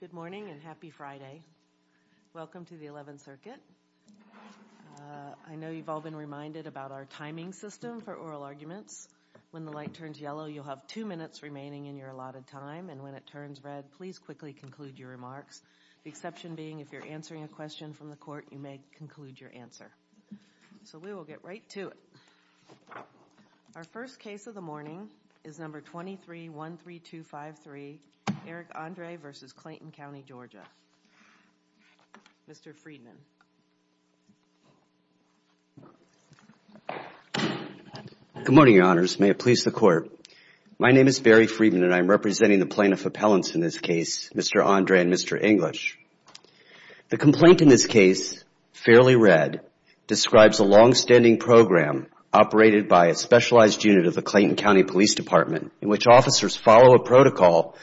Good morning and happy Friday. Welcome to the 11th Circuit. I know you've all been reminded about our timing system for oral arguments. When the light turns yellow, you'll have two minutes remaining in your allotted time, and when it turns red, please quickly conclude your remarks, the exception being if you're answering a question from the court, you may conclude your answer. So we will get right to it. Our first case of the morning is number 2313253, Eric Andre v. Clayton County, Georgia. Mr. Friedman. Good morning, Your Honors. May it please the Court. My name is Barry Friedman, and I'm representing the plaintiff appellants in this case, Mr. Andre and Mr. English. The complaint in this case, Fairly Red, describes a longstanding program operated by a specialized unit of the Clayton County Police Department in which officers follow a protocol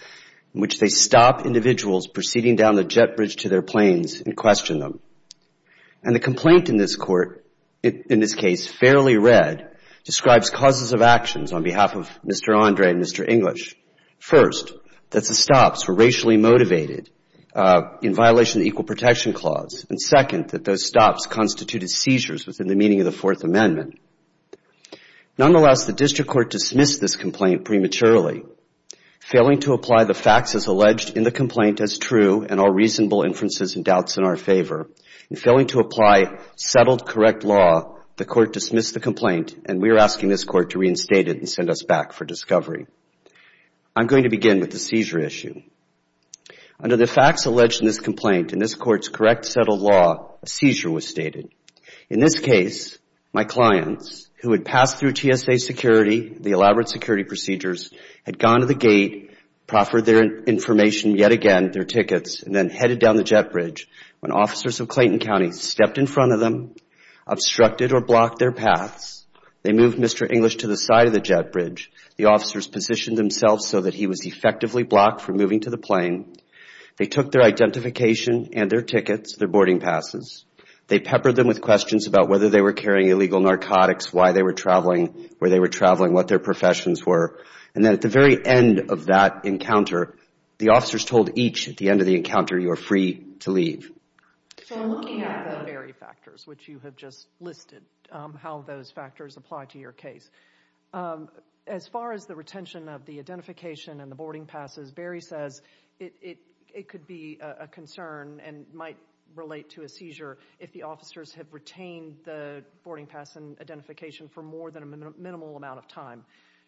in which they stop individuals proceeding down the jet bridge to their planes and question them. And the complaint in this court, in this case, Fairly Red, describes causes of actions on behalf of Mr. Andre and Mr. English. First, that the stops were racially motivated in violation of the Equal Protection Clause. And second, that those stops constituted seizures within the meaning of the Fourth Amendment. Nonetheless, the district court dismissed this complaint prematurely, failing to apply the facts as alleged in the complaint as true and all reasonable inferences and doubts in our favor. In failing to apply settled, correct law, the court dismissed the complaint, and we I'm going to begin with the seizure issue. Under the facts alleged in this complaint, in this court's correct settled law, a seizure was stated. In this case, my clients, who had passed through TSA security, the elaborate security procedures, had gone to the gate, proffered their information yet again, their tickets, and then headed down the jet bridge when officers of Clayton County stepped in front of them, obstructed or blocked their paths. They moved Mr. English to the side of the jet bridge. The officers positioned themselves so that he was effectively blocked from moving to the plane. They took their identification and their tickets, their boarding passes. They peppered them with questions about whether they were carrying illegal narcotics, why they were traveling, where they were traveling, what their professions were. And then at the very end of that encounter, the officers told each at the end of the encounter, you are free to leave. So looking at the Berry factors, which you have just listed, how those factors apply to your case, as far as the retention of the identification and the boarding passes, Berry says it could be a concern and might relate to a seizure if the officers have retained the boarding pass and identification for more than a minimal amount of time.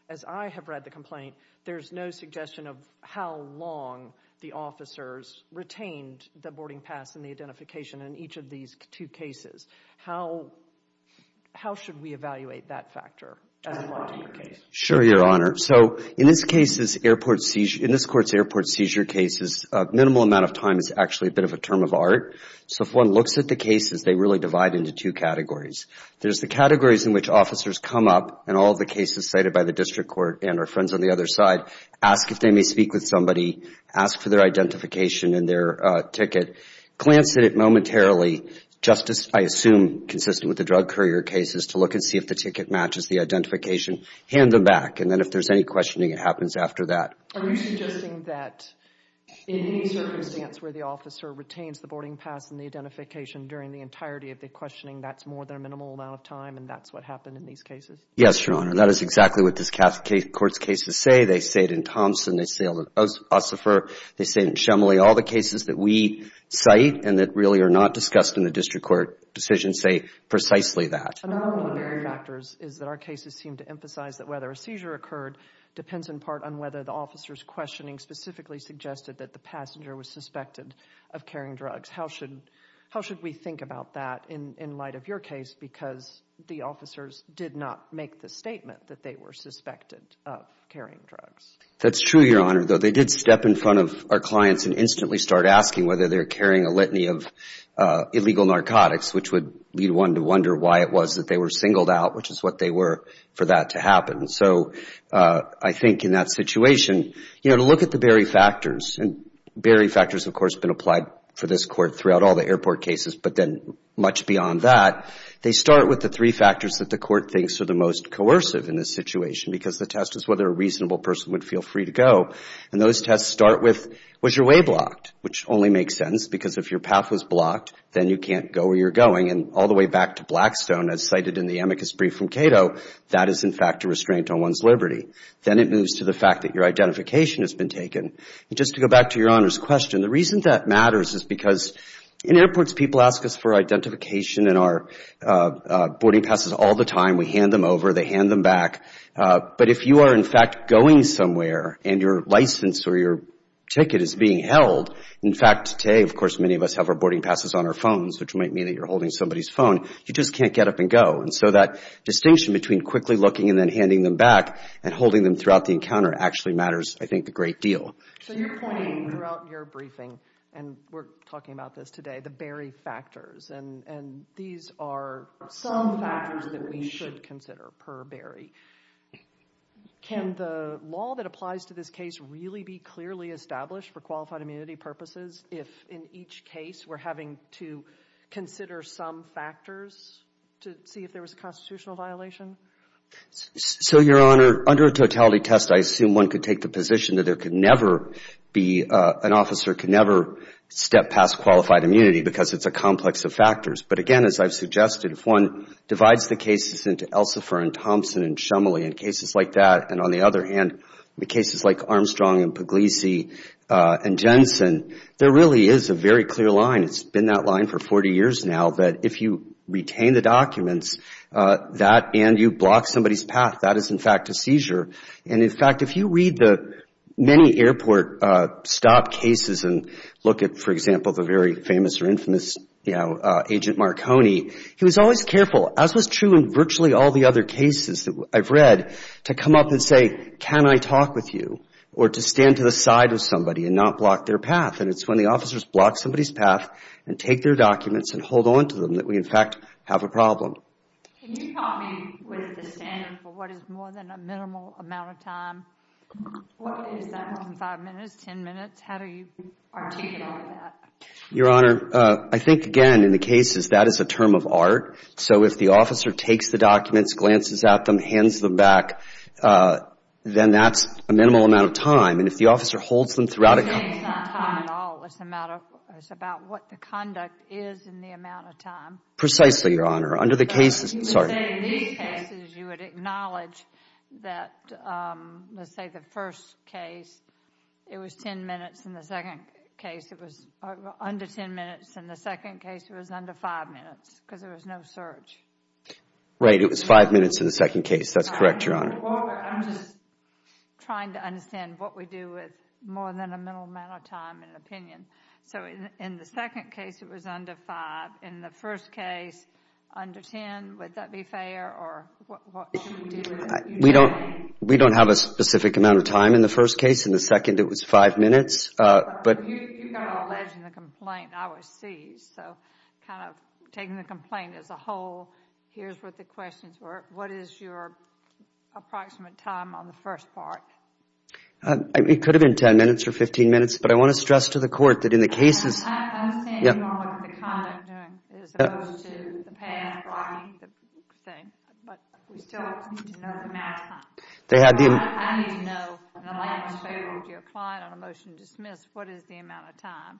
As I have read the complaint, there's no suggestion of how long the officers retained the boarding pass and the identification in each of these two cases. How should we evaluate that factor as it applies to your case? Sure, Your Honor. So in this Court's airport seizure cases, a minimal amount of time is actually a bit of a term of art. So if one looks at the cases, they really divide into two categories. There's the categories in which officers come up and all of the cases cited by the District Court and our friends on the other side, ask if they may speak with somebody, ask for their ticket, glance at it momentarily, just as I assume consistent with the drug courier cases to look and see if the ticket matches the identification, hand them back. And then if there's any questioning, it happens after that. Are you suggesting that in any circumstance where the officer retains the boarding pass and the identification during the entirety of the questioning, that's more than a minimal amount of time and that's what happened in these cases? Yes, Your Honor. That is exactly what this Court's cases say. They say it in Thompson. They say it in Ossoffer. They say it in Shumley. All the cases that we cite and that really are not discussed in the District Court decision say precisely that. Another one of the factors is that our cases seem to emphasize that whether a seizure occurred depends in part on whether the officer's questioning specifically suggested that the passenger was suspected of carrying drugs. How should we think about that in light of your case because the officers did not make the statement that they were suspected of carrying drugs? That's true, Your Honor. They did step in front of our clients and instantly start asking whether they were carrying a litany of illegal narcotics, which would lead one to wonder why it was that they were singled out, which is what they were, for that to happen. So I think in that situation, you know, to look at the Barry factors, and Barry factors have, of course, been applied for this Court throughout all the airport cases, but then much beyond that, they start with the three factors that the Court thinks are the most coercive in this situation because the test is whether a reasonable person would feel free to go, and those tests start with, was your way blocked, which only makes sense because if your path was blocked, then you can't go where you're going, and all the way back to Blackstone, as cited in the amicus brief from Cato, that is, in fact, a restraint on one's liberty. Then it moves to the fact that your identification has been taken. Just to go back to Your Honor's question, the reason that matters is because in airports, people ask us for identification in our boarding passes all the time. We hand them over. They hand them back. But if you are, in fact, going somewhere and your license or your ticket is being held, in fact, today, of course, many of us have our boarding passes on our phones, which might mean that you're holding somebody's phone, you just can't get up and go. And so that distinction between quickly looking and then handing them back and holding them throughout the encounter actually matters, I think, a great deal. So you're pointing throughout your briefing, and we're talking about this today, the Barry Can the law that applies to this case really be clearly established for qualified immunity purposes if, in each case, we're having to consider some factors to see if there was a constitutional violation? So, Your Honor, under a totality test, I assume one could take the position that there could never be an officer could never step past qualified immunity because it's a complex of factors. But, again, as I've suggested, if one divides the cases into Elsifer and Thompson and Shumley and cases like that, and on the other hand, the cases like Armstrong and Pugliese and Jensen, there really is a very clear line. It's been that line for 40 years now that if you retain the documents, that and you block somebody's path, that is, in fact, a seizure. And, in fact, if you read the many airport stop cases and look at, for example, the very he was always careful, as was true in virtually all the other cases that I've read, to come up and say, can I talk with you, or to stand to the side of somebody and not block their path. And it's when the officers block somebody's path and take their documents and hold on to them that we, in fact, have a problem. Can you help me with the standard for what is more than a minimal amount of time? Is that more than five minutes, ten minutes? How do you articulate that? Your Honor, I think, again, in the cases, that is a term of art. So if the officer takes the documents, glances at them, hands them back, then that's a minimal amount of time. And if the officer holds them throughout a It's not time at all. It's about what the conduct is in the amount of time. Precisely, Your Honor. Under the cases In these cases, you would acknowledge that, let's say, the first case, it was ten minutes. In the second case, it was under ten minutes. In the second case, it was under five minutes because there was no search. Right. It was five minutes in the second case. That's correct, Your Honor. I'm just trying to understand what we do with more than a minimal amount of time in an opinion. So in the second case, it was under five. In the first case, under ten. Would that be fair? Or what should we do with it? We don't have a specific amount of time in the first case. In the second, it was five minutes. You got alleged in the complaint. I was seized. So kind of taking the complaint as a whole, here's what the questions were. What is your approximate time on the first part? It could have been ten minutes or fifteen minutes. But I want to stress to the court that in the cases I understand, Your Honor, what the conduct is as opposed to the pan and blocking thing. But we still need to know the amount of time. I need to know in the last favor of your client on a motion to dismiss, what is the amount of time?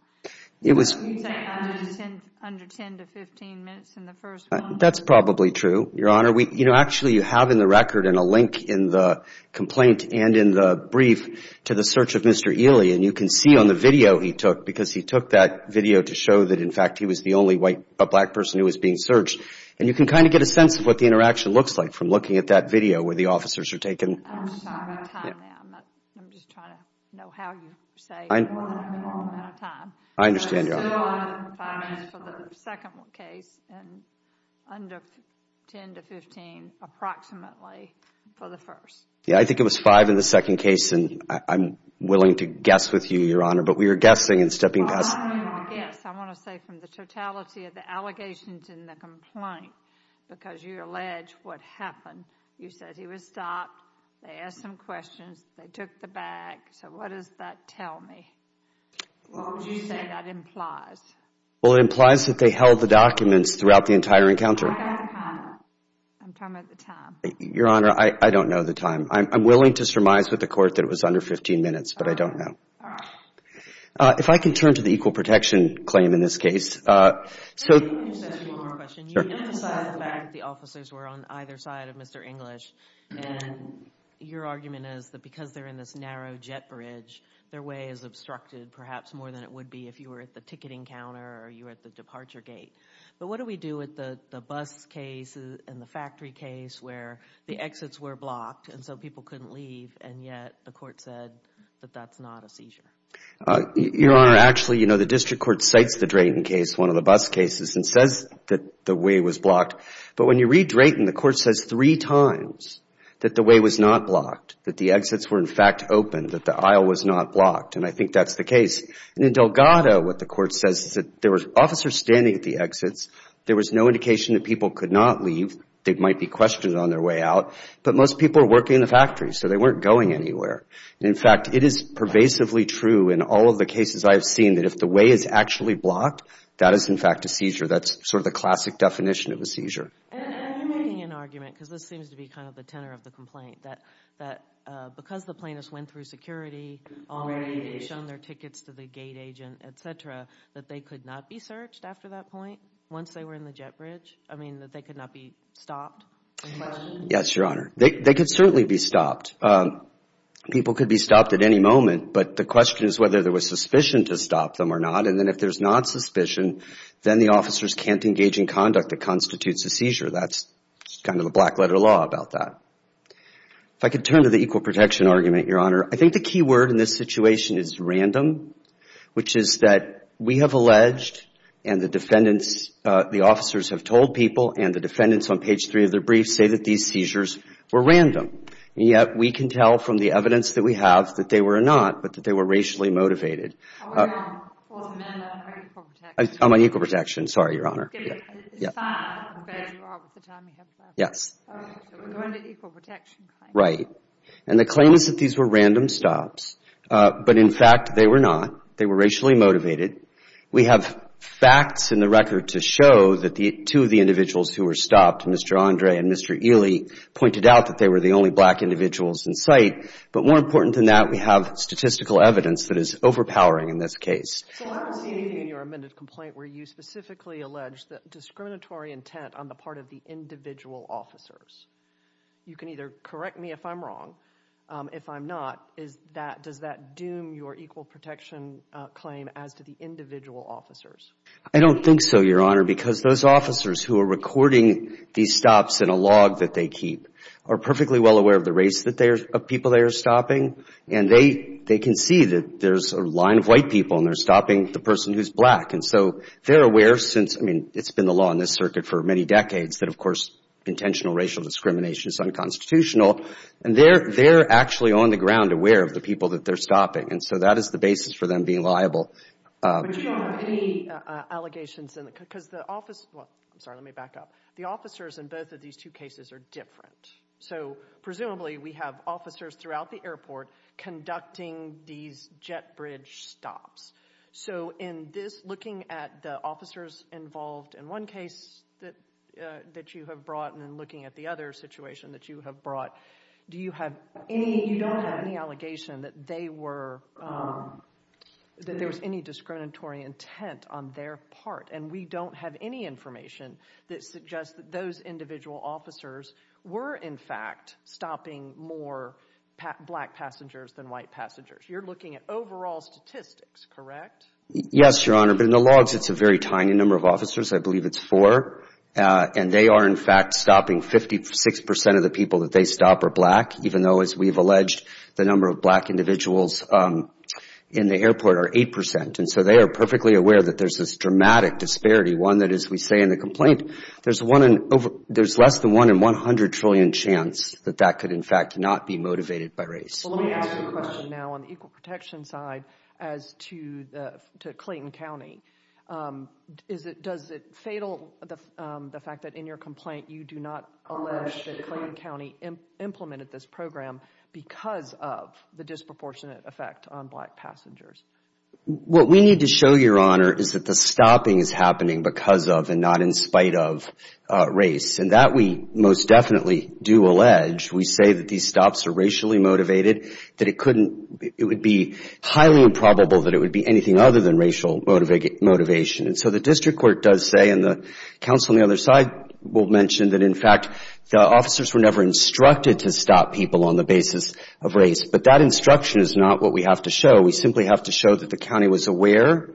You said under ten to fifteen minutes in the first one. That's probably true, Your Honor. Actually, you have in the record and a link in the complaint and in the brief to the search of Mr. Ely. And you can see on the video he took because he took that video to show that, in fact, he was the only black person who was being searched. And you can kind of get a sense of what the interaction looks like from looking at that video where the officers are taken. I'm just trying to know how you say the amount of time. I understand, Your Honor. Five minutes for the second case and under ten to fifteen approximately for the first. Yeah, I think it was five in the second case. And I'm willing to guess with you, Your Honor. But we are guessing and stepping past. I want to say from the totality of the allegations in the complaint because you allege what happened. You said he was stopped, they asked him questions, they took the bag. So what does that tell me? What would you say that implies? Well, it implies that they held the documents throughout the entire encounter. What about the time? I'm talking about the time. Your Honor, I don't know the time. I'm willing to surmise with the Court that it was under fifteen minutes, but I don't know. All right. If I can turn to the equal protection claim in this case. Let me ask you one more question. You emphasized the fact that the officers were on either side of Mr. English. And your argument is that because they're in this narrow jet bridge, their way is obstructed perhaps more than it would be if you were at the ticketing counter or you were at the departure gate. But what do we do with the bus case and the factory case where the exits were blocked and so people couldn't leave and yet the Court said that that's not a seizure? Your Honor, actually, you know, the District Court cites the Drayton case, one of the bus cases, and says that the way was blocked. But when you read Drayton, the Court says three times that the way was not blocked, that the exits were, in fact, open, that the aisle was not blocked. And I think that's the case. And in Delgado, what the Court says is that there were officers standing at the exits. There was no indication that people could not leave. They might be questioned on their way out. But most people were working in the factory, so they weren't going anywhere. And, in fact, it is pervasively true in all of the cases I have seen that if the way is actually blocked, that is, in fact, a seizure. That's sort of the classic definition of a seizure. And are you making an argument, because this seems to be kind of the tenor of the complaint, that because the plaintiffs went through security, already shown their tickets to the gate agent, et cetera, that they could not be searched after that point once they were in the jet bridge? I mean that they could not be stopped? Yes, Your Honor. They could certainly be stopped. People could be stopped at any moment, but the question is whether there was suspicion to stop them or not. And then if there's not suspicion, then the officers can't engage in conduct that constitutes a seizure. That's kind of the black letter law about that. If I could turn to the equal protection argument, Your Honor, I think the key word in this situation is random, which is that we have alleged and the defendants, the officers have told people and the defendants on page three of their briefs say that these seizures were random. And yet we can tell from the evidence that we have that they were not, but that they were racially motivated. I'm on equal protection. Sorry, Your Honor. Yes. We're going to equal protection. Right. And the claim is that these were random stops, but in fact they were not. They were racially motivated. We have facts in the record to show that two of the individuals who were stopped, Mr. Andre and Mr. Ely, pointed out that they were the only black individuals in sight. But more important than that, we have statistical evidence that is overpowering in this case. So I'm seeing in your amended complaint where you specifically allege that discriminatory intent on the part of the individual officers. You can either correct me if I'm wrong. If I'm not, is that, does that doom your equal protection claim as to the individual officers? I don't think so, Your Honor, because those officers who are recording these stops in a log that they keep are perfectly well aware of the race of people they are stopping, and they can see that there's a line of white people and they're stopping the person who's black. And so they're aware since, I mean, it's been the law in this circuit for many decades that, of course, intentional racial discrimination is unconstitutional, and they're actually on the ground aware of the people that they're stopping. And so that is the basis for them being liable. But do you have any allegations in the, because the officers, well, I'm sorry, let me back up. The officers in both of these two cases are different. So presumably we have officers throughout the airport conducting these jet bridge stops. So in this, looking at the officers involved in one case that you have brought and then looking at the other situation that you have brought, do you have any, you don't have any allegation that they were, that there was any discriminatory intent on their part? And we don't have any information that suggests that those individual officers were, in fact, stopping more black passengers than white passengers. You're looking at overall statistics, correct? Yes, Your Honor, but in the logs it's a very tiny number of officers. I believe it's four. And they are, in fact, stopping 56% of the people that they stop are black, even though, as we've alleged, the number of black individuals in the airport are 8%. And so they are perfectly aware that there's this dramatic disparity, one that, as we say in the complaint, there's less than 1 in 100 trillion chance that that could, in fact, not be motivated by race. Let me ask you a question now on the equal protection side as to Clayton County. Does it fatal the fact that in your complaint you do not allege that Clayton County implemented this program because of the disproportionate effect on black passengers? What we need to show, Your Honor, is that the stopping is happening because of and not in spite of race, and that we most definitely do allege. We say that these stops are racially motivated, that it couldn't, it would be highly improbable that it would be anything other than racial motivation. And so the district court does say, and the counsel on the other side will mention, that, in fact, the officers were never instructed to stop people on the basis of race. But that instruction is not what we have to show. We simply have to show that the county was aware.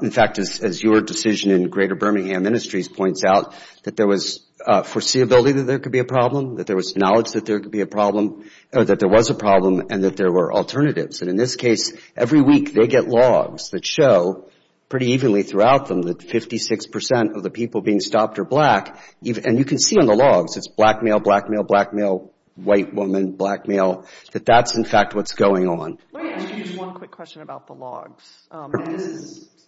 In fact, as your decision in Greater Birmingham Ministries points out, that there was foreseeability that there could be a problem, that there was knowledge that there could be a problem, that there was a problem, and that there were alternatives. And in this case, every week they get logs that show pretty evenly throughout them that 56 percent of the people being stopped are black. And you can see on the logs, it's black male, black male, black male, white woman, black male, that that's, in fact, what's going on. Let me ask you just one quick question about the logs.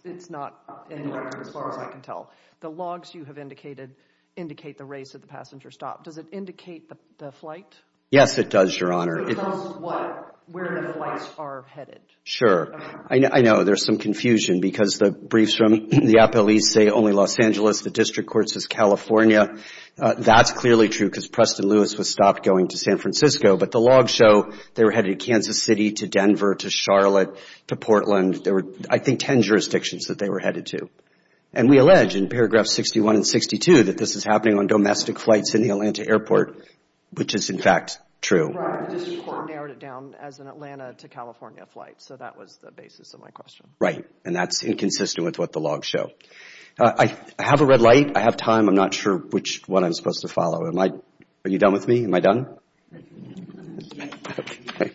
It's not in your record as far as I can tell. The logs you have indicated indicate the race at the passenger stop. Does it indicate the flight? Yes, it does, Your Honor. So it tells us what, where the flights are headed. Sure. I know there's some confusion because the briefs from the appellees say only Los Angeles. The district court says California. That's clearly true because Preston Lewis was stopped going to San Francisco. But the logs show they were headed to Kansas City, to Denver, to Charlotte, to Portland. There were, I think, ten jurisdictions that they were headed to. And we allege in paragraph 61 and 62 that this is happening on domestic flights in the Atlanta airport, which is, in fact, true. The district court narrowed it down as an Atlanta to California flight. So that was the basis of my question. Right. And that's inconsistent with what the logs show. I have a red light. I have time. I'm not sure which one I'm supposed to follow. Are you done with me? Am I done? Okay.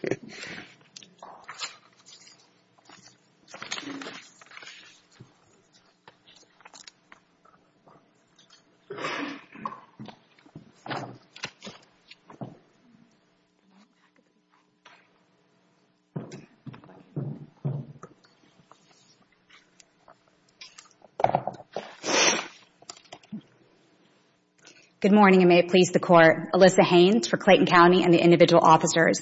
Good morning. May it please the Court. Alyssa Haynes for Clayton County and the individual officers.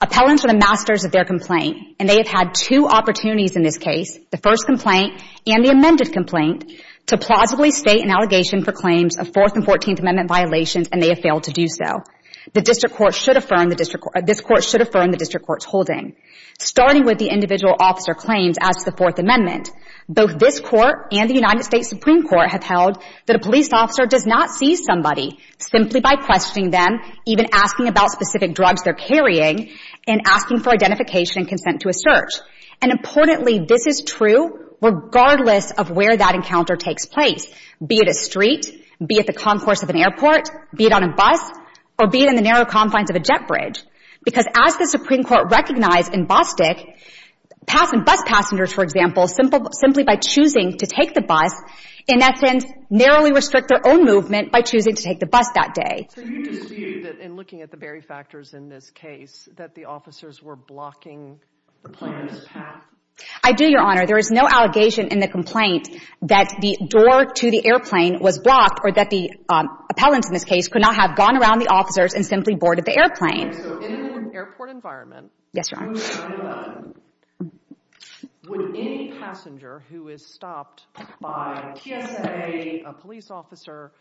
Appellants are the masters of their complaint. And they have had two opportunities in this case, the first complaint and the amended complaint, to plausibly state an allegation for claims of Fourth and Fourteenth Amendment violations, and they have failed to do so. The district court should affirm the district court's holding, starting with the individual officer claims as to the Fourth Amendment. Both this court and the United States Supreme Court have held that a police officer does not seize somebody simply by questioning them, even asking about specific drugs they're carrying, and asking for identification and consent to a search. And importantly, this is true regardless of where that encounter takes place, be it a street, be it the concourse of an airport, be it on a bus, or be it in the narrow confines of a jet bridge. Because as the Supreme Court recognized in Bostick, bus passengers, for example, simply by choosing to take the bus, in essence, narrowly restrict their own movement by choosing to take the bus that day. So you dispute that in looking at the very factors in this case, that the officers were blocking the plane's path? I do, Your Honor. There is no allegation in the complaint that the door to the airplane was blocked or that the appellants in this case could not have gone around the officers and simply boarded the airplane. So in an airport environment, Yes, Your Honor. would any passenger who is stopped by a TSA, a police officer,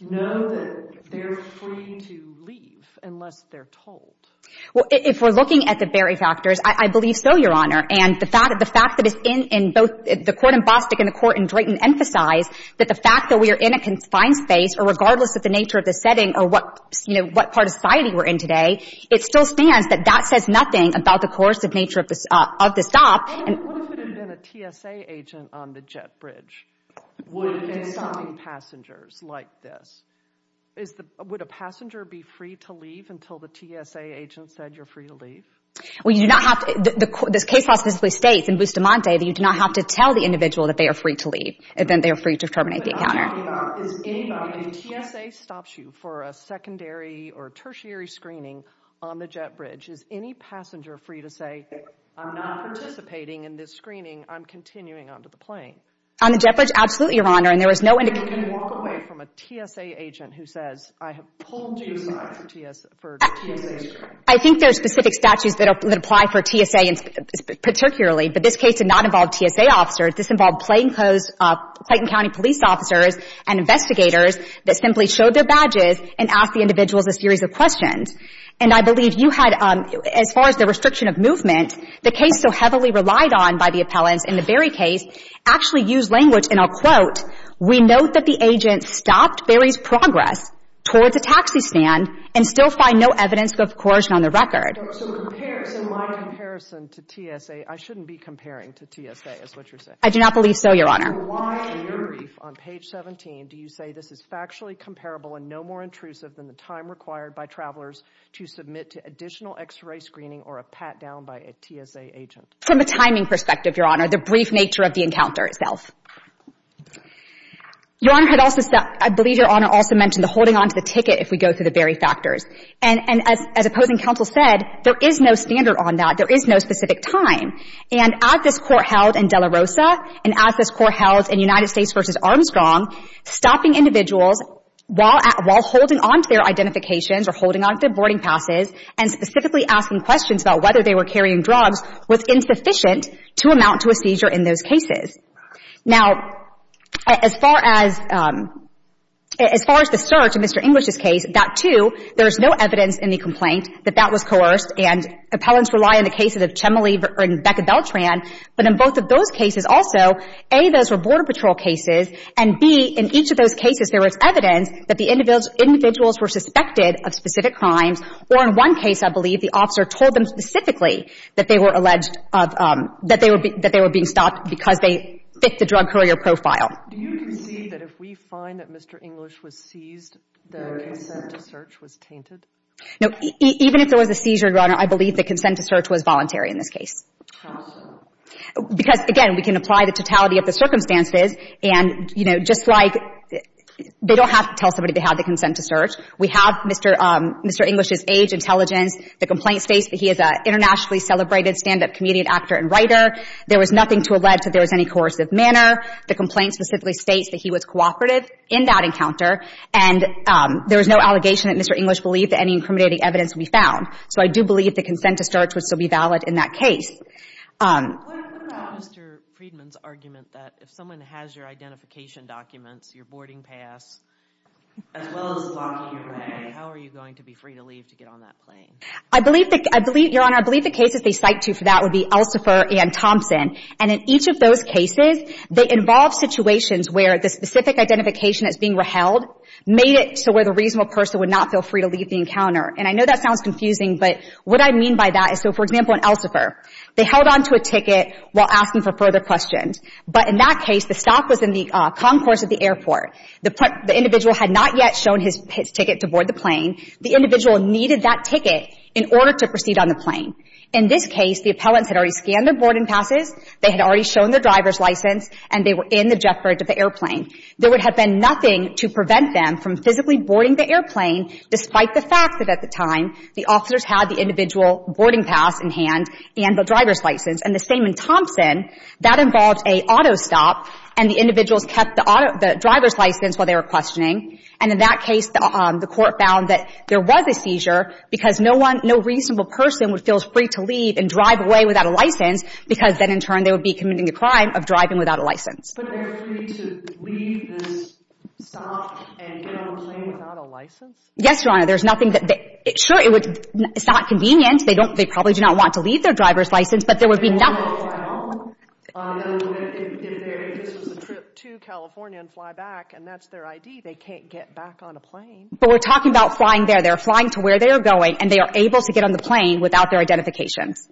know that they're free to leave unless they're told? Well, if we're looking at the very factors, I believe so, Your Honor. And the fact that it's in both the court in Bostick and the court in Drayton emphasize that the fact that we are in a confined space, or regardless of the nature of the setting or what part of society we're in today, it still stands that that says nothing about the coercive nature of the stop. What if it had been a TSA agent on the jet bridge? Would it have been stopping passengers like this? Would a passenger be free to leave until the TSA agent said you're free to leave? Well, you do not have to. This case law specifically states in Bustamante that you do not have to tell the individual that they are free to leave if they are free to terminate the encounter. If TSA stops you for a secondary or tertiary screening on the jet bridge, is any passenger free to say, I'm not participating in this screening, I'm continuing on to the plane? On the jet bridge, absolutely, Your Honor. And there was no indication. Can you walk away from a TSA agent who says, I have pulled you aside for TSA screening? I think there are specific statutes that apply for TSA particularly, but this case did not involve TSA officers. This involved Clayton County police officers and investigators that simply showed their badges and asked the individuals a series of questions. And I believe you had, as far as the restriction of movement, the case so heavily relied on by the appellants in the Berry case actually used language, and I'll quote, we note that the agent stopped Berry's progress towards a taxi stand and still find no evidence of coercion on the record. So in my comparison to TSA, I shouldn't be comparing to TSA is what you're saying? I do not believe so, Your Honor. So why in your brief on page 17 do you say this is factually comparable and no more intrusive than the time required by travelers to submit to additional X-ray screening or a pat-down by a TSA agent? From a timing perspective, Your Honor, the brief nature of the encounter itself. Your Honor, I believe Your Honor also mentioned the holding on to the ticket if we go through the Berry factors. And as opposing counsel said, there is no standard on that. There is no specific time. And as this Court held in De La Rosa and as this Court held in United States v. Armstrong, stopping individuals while holding on to their identifications or holding on to their boarding passes and specifically asking questions about whether they were carrying drugs was insufficient to amount to a seizure in those cases. Now, as far as the search in Mr. English's case, that too, there is no evidence in the complaint that that was coerced and appellants rely on the cases of Chemily and Becca Beltran. But in both of those cases also, A, those were Border Patrol cases, and B, in each of those cases there was evidence that the individuals were suspected of specific crimes or in one case I believe the officer told them specifically that they were alleged of – that they were being stopped because they fit the drug courier profile. Do you concede that if we find that Mr. English was seized, the case of the search was tainted? No. Even if there was a seizure, Your Honor, I believe the consent to search was voluntary in this case. How so? Because, again, we can apply the totality of the circumstances and, you know, just like they don't have to tell somebody they have the consent to search. We have Mr. English's age, intelligence. The complaint states that he is an internationally celebrated stand-up comedian, actor and writer. There was nothing to allege that there was any coercive manner. The complaint specifically states that he was cooperative in that encounter and there was no allegation that Mr. English believed that any incriminating evidence would be found. So I do believe the consent to search would still be valid in that case. What about Mr. Friedman's argument that if someone has your identification documents, your boarding pass, as well as a lock on your name, how are you going to be free to leave to get on that plane? I believe, Your Honor, I believe the cases they cite to for that would be Elsifer and Thompson. And in each of those cases, they involve situations where the specific identification that's being reheld made it to where the reasonable person would not feel free to leave the encounter. And I know that sounds confusing, but what I mean by that is, so, for example, in Elsifer, they held on to a ticket while asking for further questions. But in that case, the stop was in the concourse of the airport. The individual had not yet shown his ticket to board the plane. The individual needed that ticket in order to proceed on the plane. In this case, the appellants had already scanned their boarding passes, they had already shown their driver's license, and they were in the jet bridge of the airplane. There would have been nothing to prevent them from physically boarding the airplane despite the fact that at the time, the officers had the individual boarding pass in hand and the driver's license. And the same in Thompson. That involved an auto stop, and the individuals kept the driver's license while they were questioning. And in that case, the Court found that there was a seizure because no one, no reasonable person would feel free to leave and drive away without a license because then, in turn, they would be committing the crime of driving without a license. But they're free to leave the stop and get on the plane without a license? Yes, Your Honor. There's nothing that they – sure, it's not convenient. They don't – they probably do not want to leave their driver's license, but there would be nothing. They don't want to fly home? If this was a trip to California and fly back, and that's their ID, they can't get back on a plane. But we're talking about flying there. They're flying to where they are going, and they are able to get on the plane without their identifications.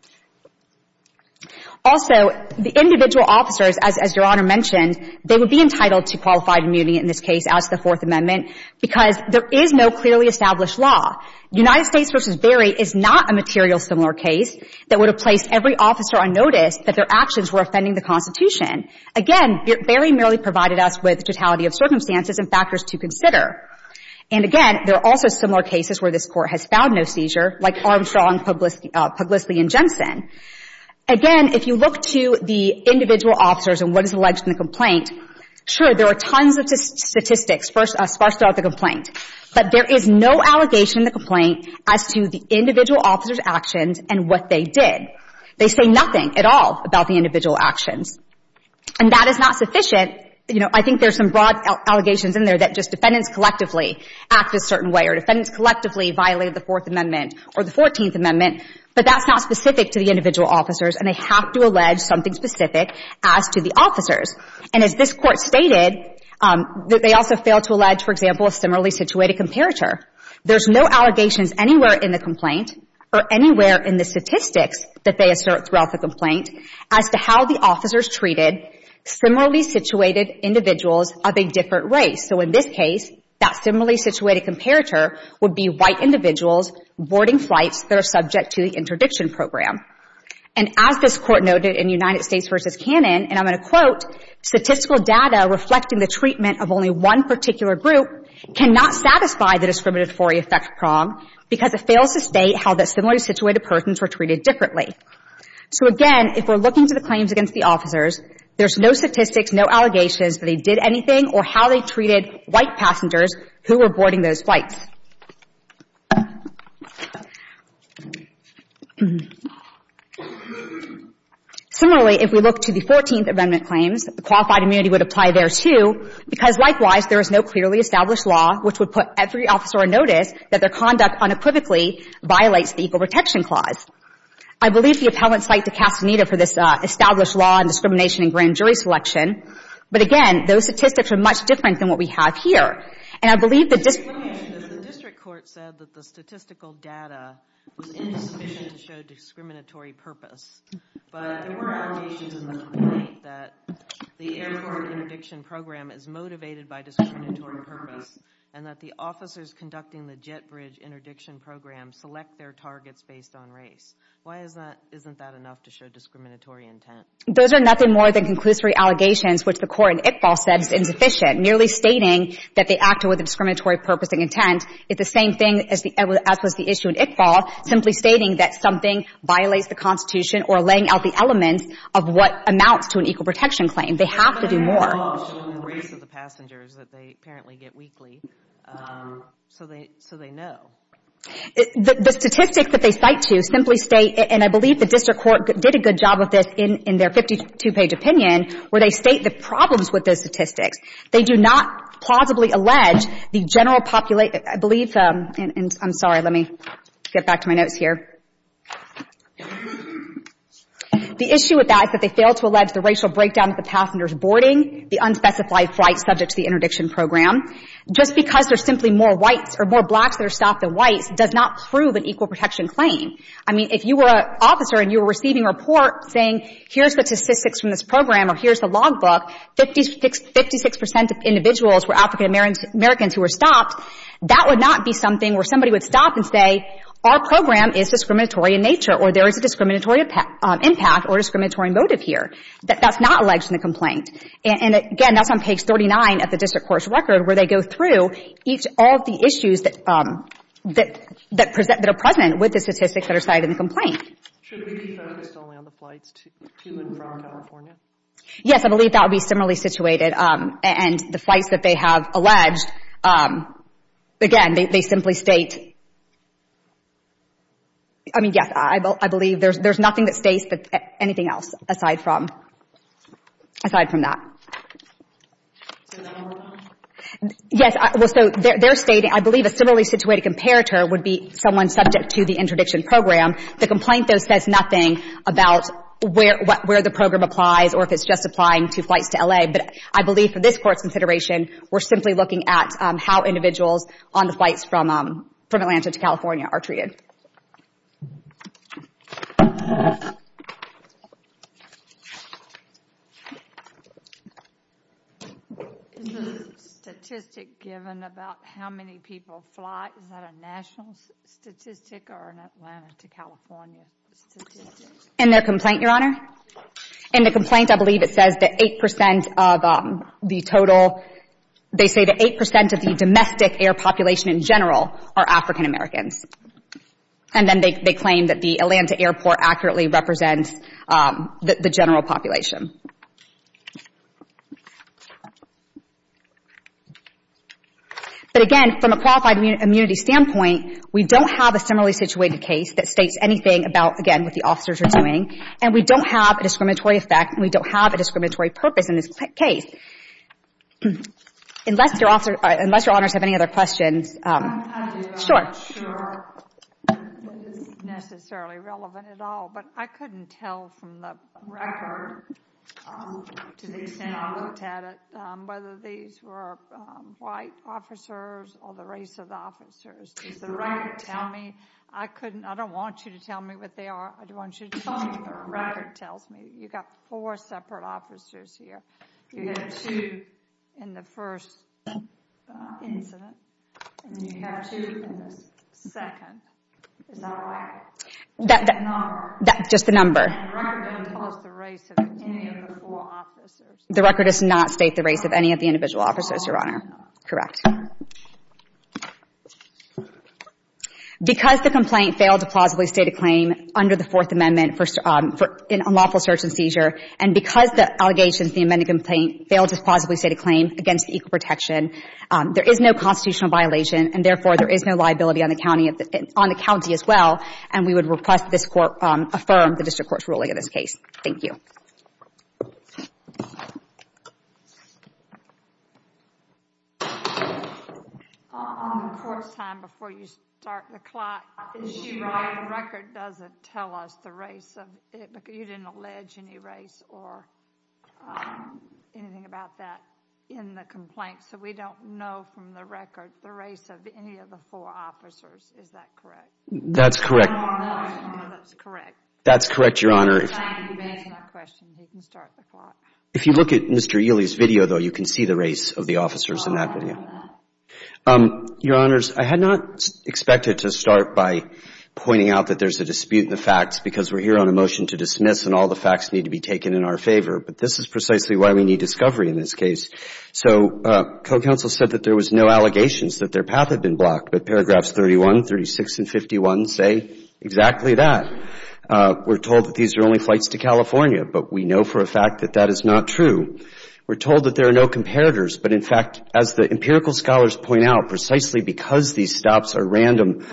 Also, the individual officers, as Your Honor mentioned, they would be entitled to qualified immunity in this case as to the Fourth Amendment because there is no clearly established law. United States v. Berry is not a material similar case that would have placed every officer on notice that their actions were offending the Constitution. Again, Berry merely provided us with totality of circumstances and factors to consider. And again, there are also similar cases where this Court has found no seizure, like Armstrong, Puglisly, and Jensen. Again, if you look to the individual officers and what is alleged in the complaint, sure, there are tons of statistics sparse throughout the complaint, but there is no allegation in the complaint as to the individual officers' actions and what they did. They say nothing at all about the individual actions. And that is not sufficient. You know, I think there's some broad allegations in there that just defendants collectively act a certain way or defendants collectively violate the Fourth Amendment or the Fourteenth Amendment, but that's not specific to the individual officers, and they have to allege something specific as to the officers. And as this Court stated, they also failed to allege, for example, a similarly situated comparator. There's no allegations anywhere in the complaint or anywhere in the statistics that they assert throughout the complaint as to how the officers treated similarly situated individuals of a different race. So in this case, that similarly situated comparator would be white individuals boarding flights that are subject to the interdiction program. And as this Court noted in United States v. Cannon, and I'm going to quote, statistical data reflecting the treatment of only one particular group cannot satisfy the discriminatory effect prong because it fails to state how the similarly situated persons were treated differently. So again, if we're looking to the claims against the officers, there's no statistics, no allegations that they did anything or how they treated white passengers who were boarding those flights. Similarly, if we look to the Fourteenth Amendment claims, the qualified immunity would apply there, too, because likewise, there is no clearly established law which would put every officer on notice that their conduct unequivocally violates the Equal Protection Clause. I believe the appellant's cite to Castaneda for this established law and discrimination in grand jury selection. But again, those statistics are much different than what we have here. And I believe the district court said that the statistical data was insufficient to show discriminatory purpose, but there were allegations in the complaint that the airport interdiction program is motivated by discriminatory purpose and that the officers conducting the jet bridge interdiction program select their targets based on race. Why isn't that enough to show discriminatory intent? Those are nothing more than conclusory allegations, which the court in Iqbal said is insufficient, merely stating that they acted with a discriminatory purpose and intent. It's the same thing as was the issue in Iqbal, simply stating that something violates the Constitution or laying out the elements of what amounts to an Equal Protection Claim. They have to do more. ...of the passengers that they apparently get weekly, so they know. The statistics that they cite to simply state, and I believe the district court did a good job of this in their 52-page opinion, where they state the problems with those statistics. They do not plausibly allege the general population. I believe, and I'm sorry, let me get back to my notes here. The issue with that is that they fail to allege the racial breakdown of the passenger's boarding, the unspecified flight subject to the interdiction program. Just because there's simply more whites or more blacks that are stopped than whites does not prove an Equal Protection Claim. I mean, if you were an officer and you were receiving a report saying, here's the statistics from this program or here's the logbook, 56 percent of individuals were African Americans who were stopped, that would not be something where somebody would stop and say, our program is discriminatory in nature or there is a discriminatory impact or discriminatory motive here. That's not alleged in the complaint. And, again, that's on page 39 of the district court's record where they go through each of the issues that are present with the statistics that are cited in the complaint. Should we be focused only on the flights to and from California? Yes, I believe that would be similarly situated. And the flights that they have alleged, again, they simply state. I mean, yes, I believe there's nothing that states anything else aside from that. Yes, well, so they're stating, I believe, a similarly situated comparator would be someone subject to the interdiction program. The complaint, though, says nothing about where the program applies or if it's just applying to flights to L.A. But I believe for this Court's consideration, we're simply looking at how individuals on the flights from California or from Atlanta to California are treated. Is the statistic given about how many people fly, is that a national statistic or an Atlanta to California statistic? In their complaint, Your Honor? In the complaint, I believe it says that 8% of the total, they say that 8% of the domestic air population in general are African Americans. And then they claim that the Atlanta airport accurately represents the general population. But again, from a qualified immunity standpoint, we don't have a similarly situated case that states anything about, again, what the officers are doing. And we don't have a discriminatory effect and we don't have a discriminatory purpose in this case. Unless Your Honors have any other questions. I'm not sure what is necessarily relevant at all, but I couldn't tell from the record to the extent I looked at it whether these were white officers or the race of officers. Does the record tell me? I don't want you to tell me what they are. I want you to tell me what the record tells me. You've got four separate officers here. You have two in the first incident and you have two in the second. Is that right? Just the number. The record doesn't tell us the race of any of the four officers. The record does not state the race of any of the individual officers, Your Honor. Because the complaint failed to plausibly state a claim under the Fourth Amendment for an unlawful search and seizure and because the allegations in the amended complaint failed to plausibly state a claim against equal protection, there is no constitutional violation and therefore there is no liability on the county as well. And we would request this Court affirm the District Court's ruling in this case. Thank you. On the Court's time before you start the clock, is she right the record doesn't tell us the race of you didn't allege any race or anything about that in the complaint so we don't know from the record the race of any of the four officers. Is that correct? That's correct. That's correct, Your Honor. If you look at Mr. Ely's video, though, you can see the race of the officers in that video. Your Honors, I had not expected to start by pointing out that there's a dispute in the facts because we're here on a motion to dismiss and all the facts need to be taken in our favor. But this is precisely why we need discovery in this case. So co-counsel said that there was no allegations that their path had been blocked, but paragraphs 31, 36, and 51 say exactly that. We're told that these are only flights to California, but we know for a fact that that is not true. We're told that there are no comparators, but in fact, as the empirical scholars point out, precisely because these stops are random,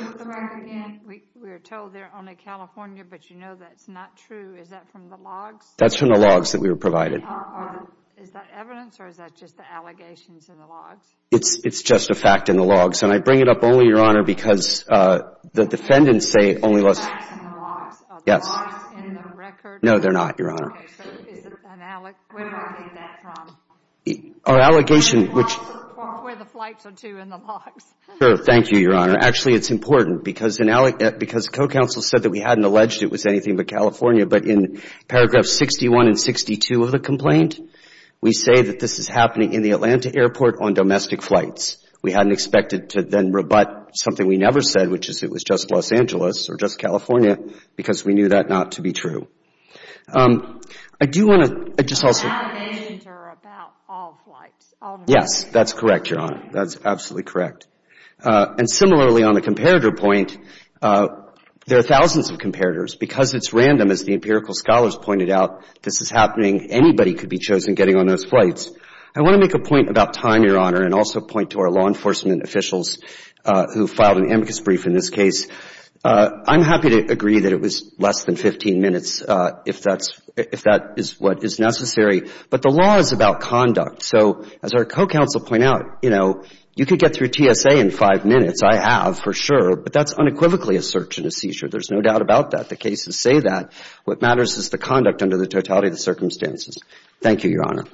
We're told they're only California, but you know that's not true. Is that from the logs? That's from the logs that we were provided. Is that evidence or is that just the allegations in the logs? It's just a fact in the logs. And I bring it up only, Your Honor, because the defendants say only the facts in the logs. Are the logs in the record? No, they're not, Your Honor. Okay, so where do I get that from? Our allegation, which... Where the flights are to in the logs. Sure, thank you, Your Honor. Actually, it's important because Code Counsel said that we hadn't alleged it was anything but California, but in paragraphs 61 and 62 of the complaint, we say that this is happening in the Atlanta airport on domestic flights. We hadn't expected to then rebut something we never said, which is it was just Los Angeles or just California because we knew that not to be true. I do want to just also... The allegations are about all flights, all domestic flights. Yes, that's correct, Your Honor. That's absolutely correct. And similarly, on the comparator point, there are thousands of comparators. Because it's random, as the empirical scholars pointed out, this is happening. Anybody could be chosen getting on those flights. I want to make a point about time, Your Honor, and also point to our law enforcement officials who filed an amicus brief in this case. I'm happy to agree that it was less than 15 minutes if that's... if that is what is necessary. But the law is about conduct. So as our co-counsel pointed out, you know, you can't get through TSA in five minutes. I have, for sure. But that's unequivocally a search and a seizure. There's no doubt about that. The cases say that. What matters is the conduct under the totality of the circumstances. Thank you, Your Honor.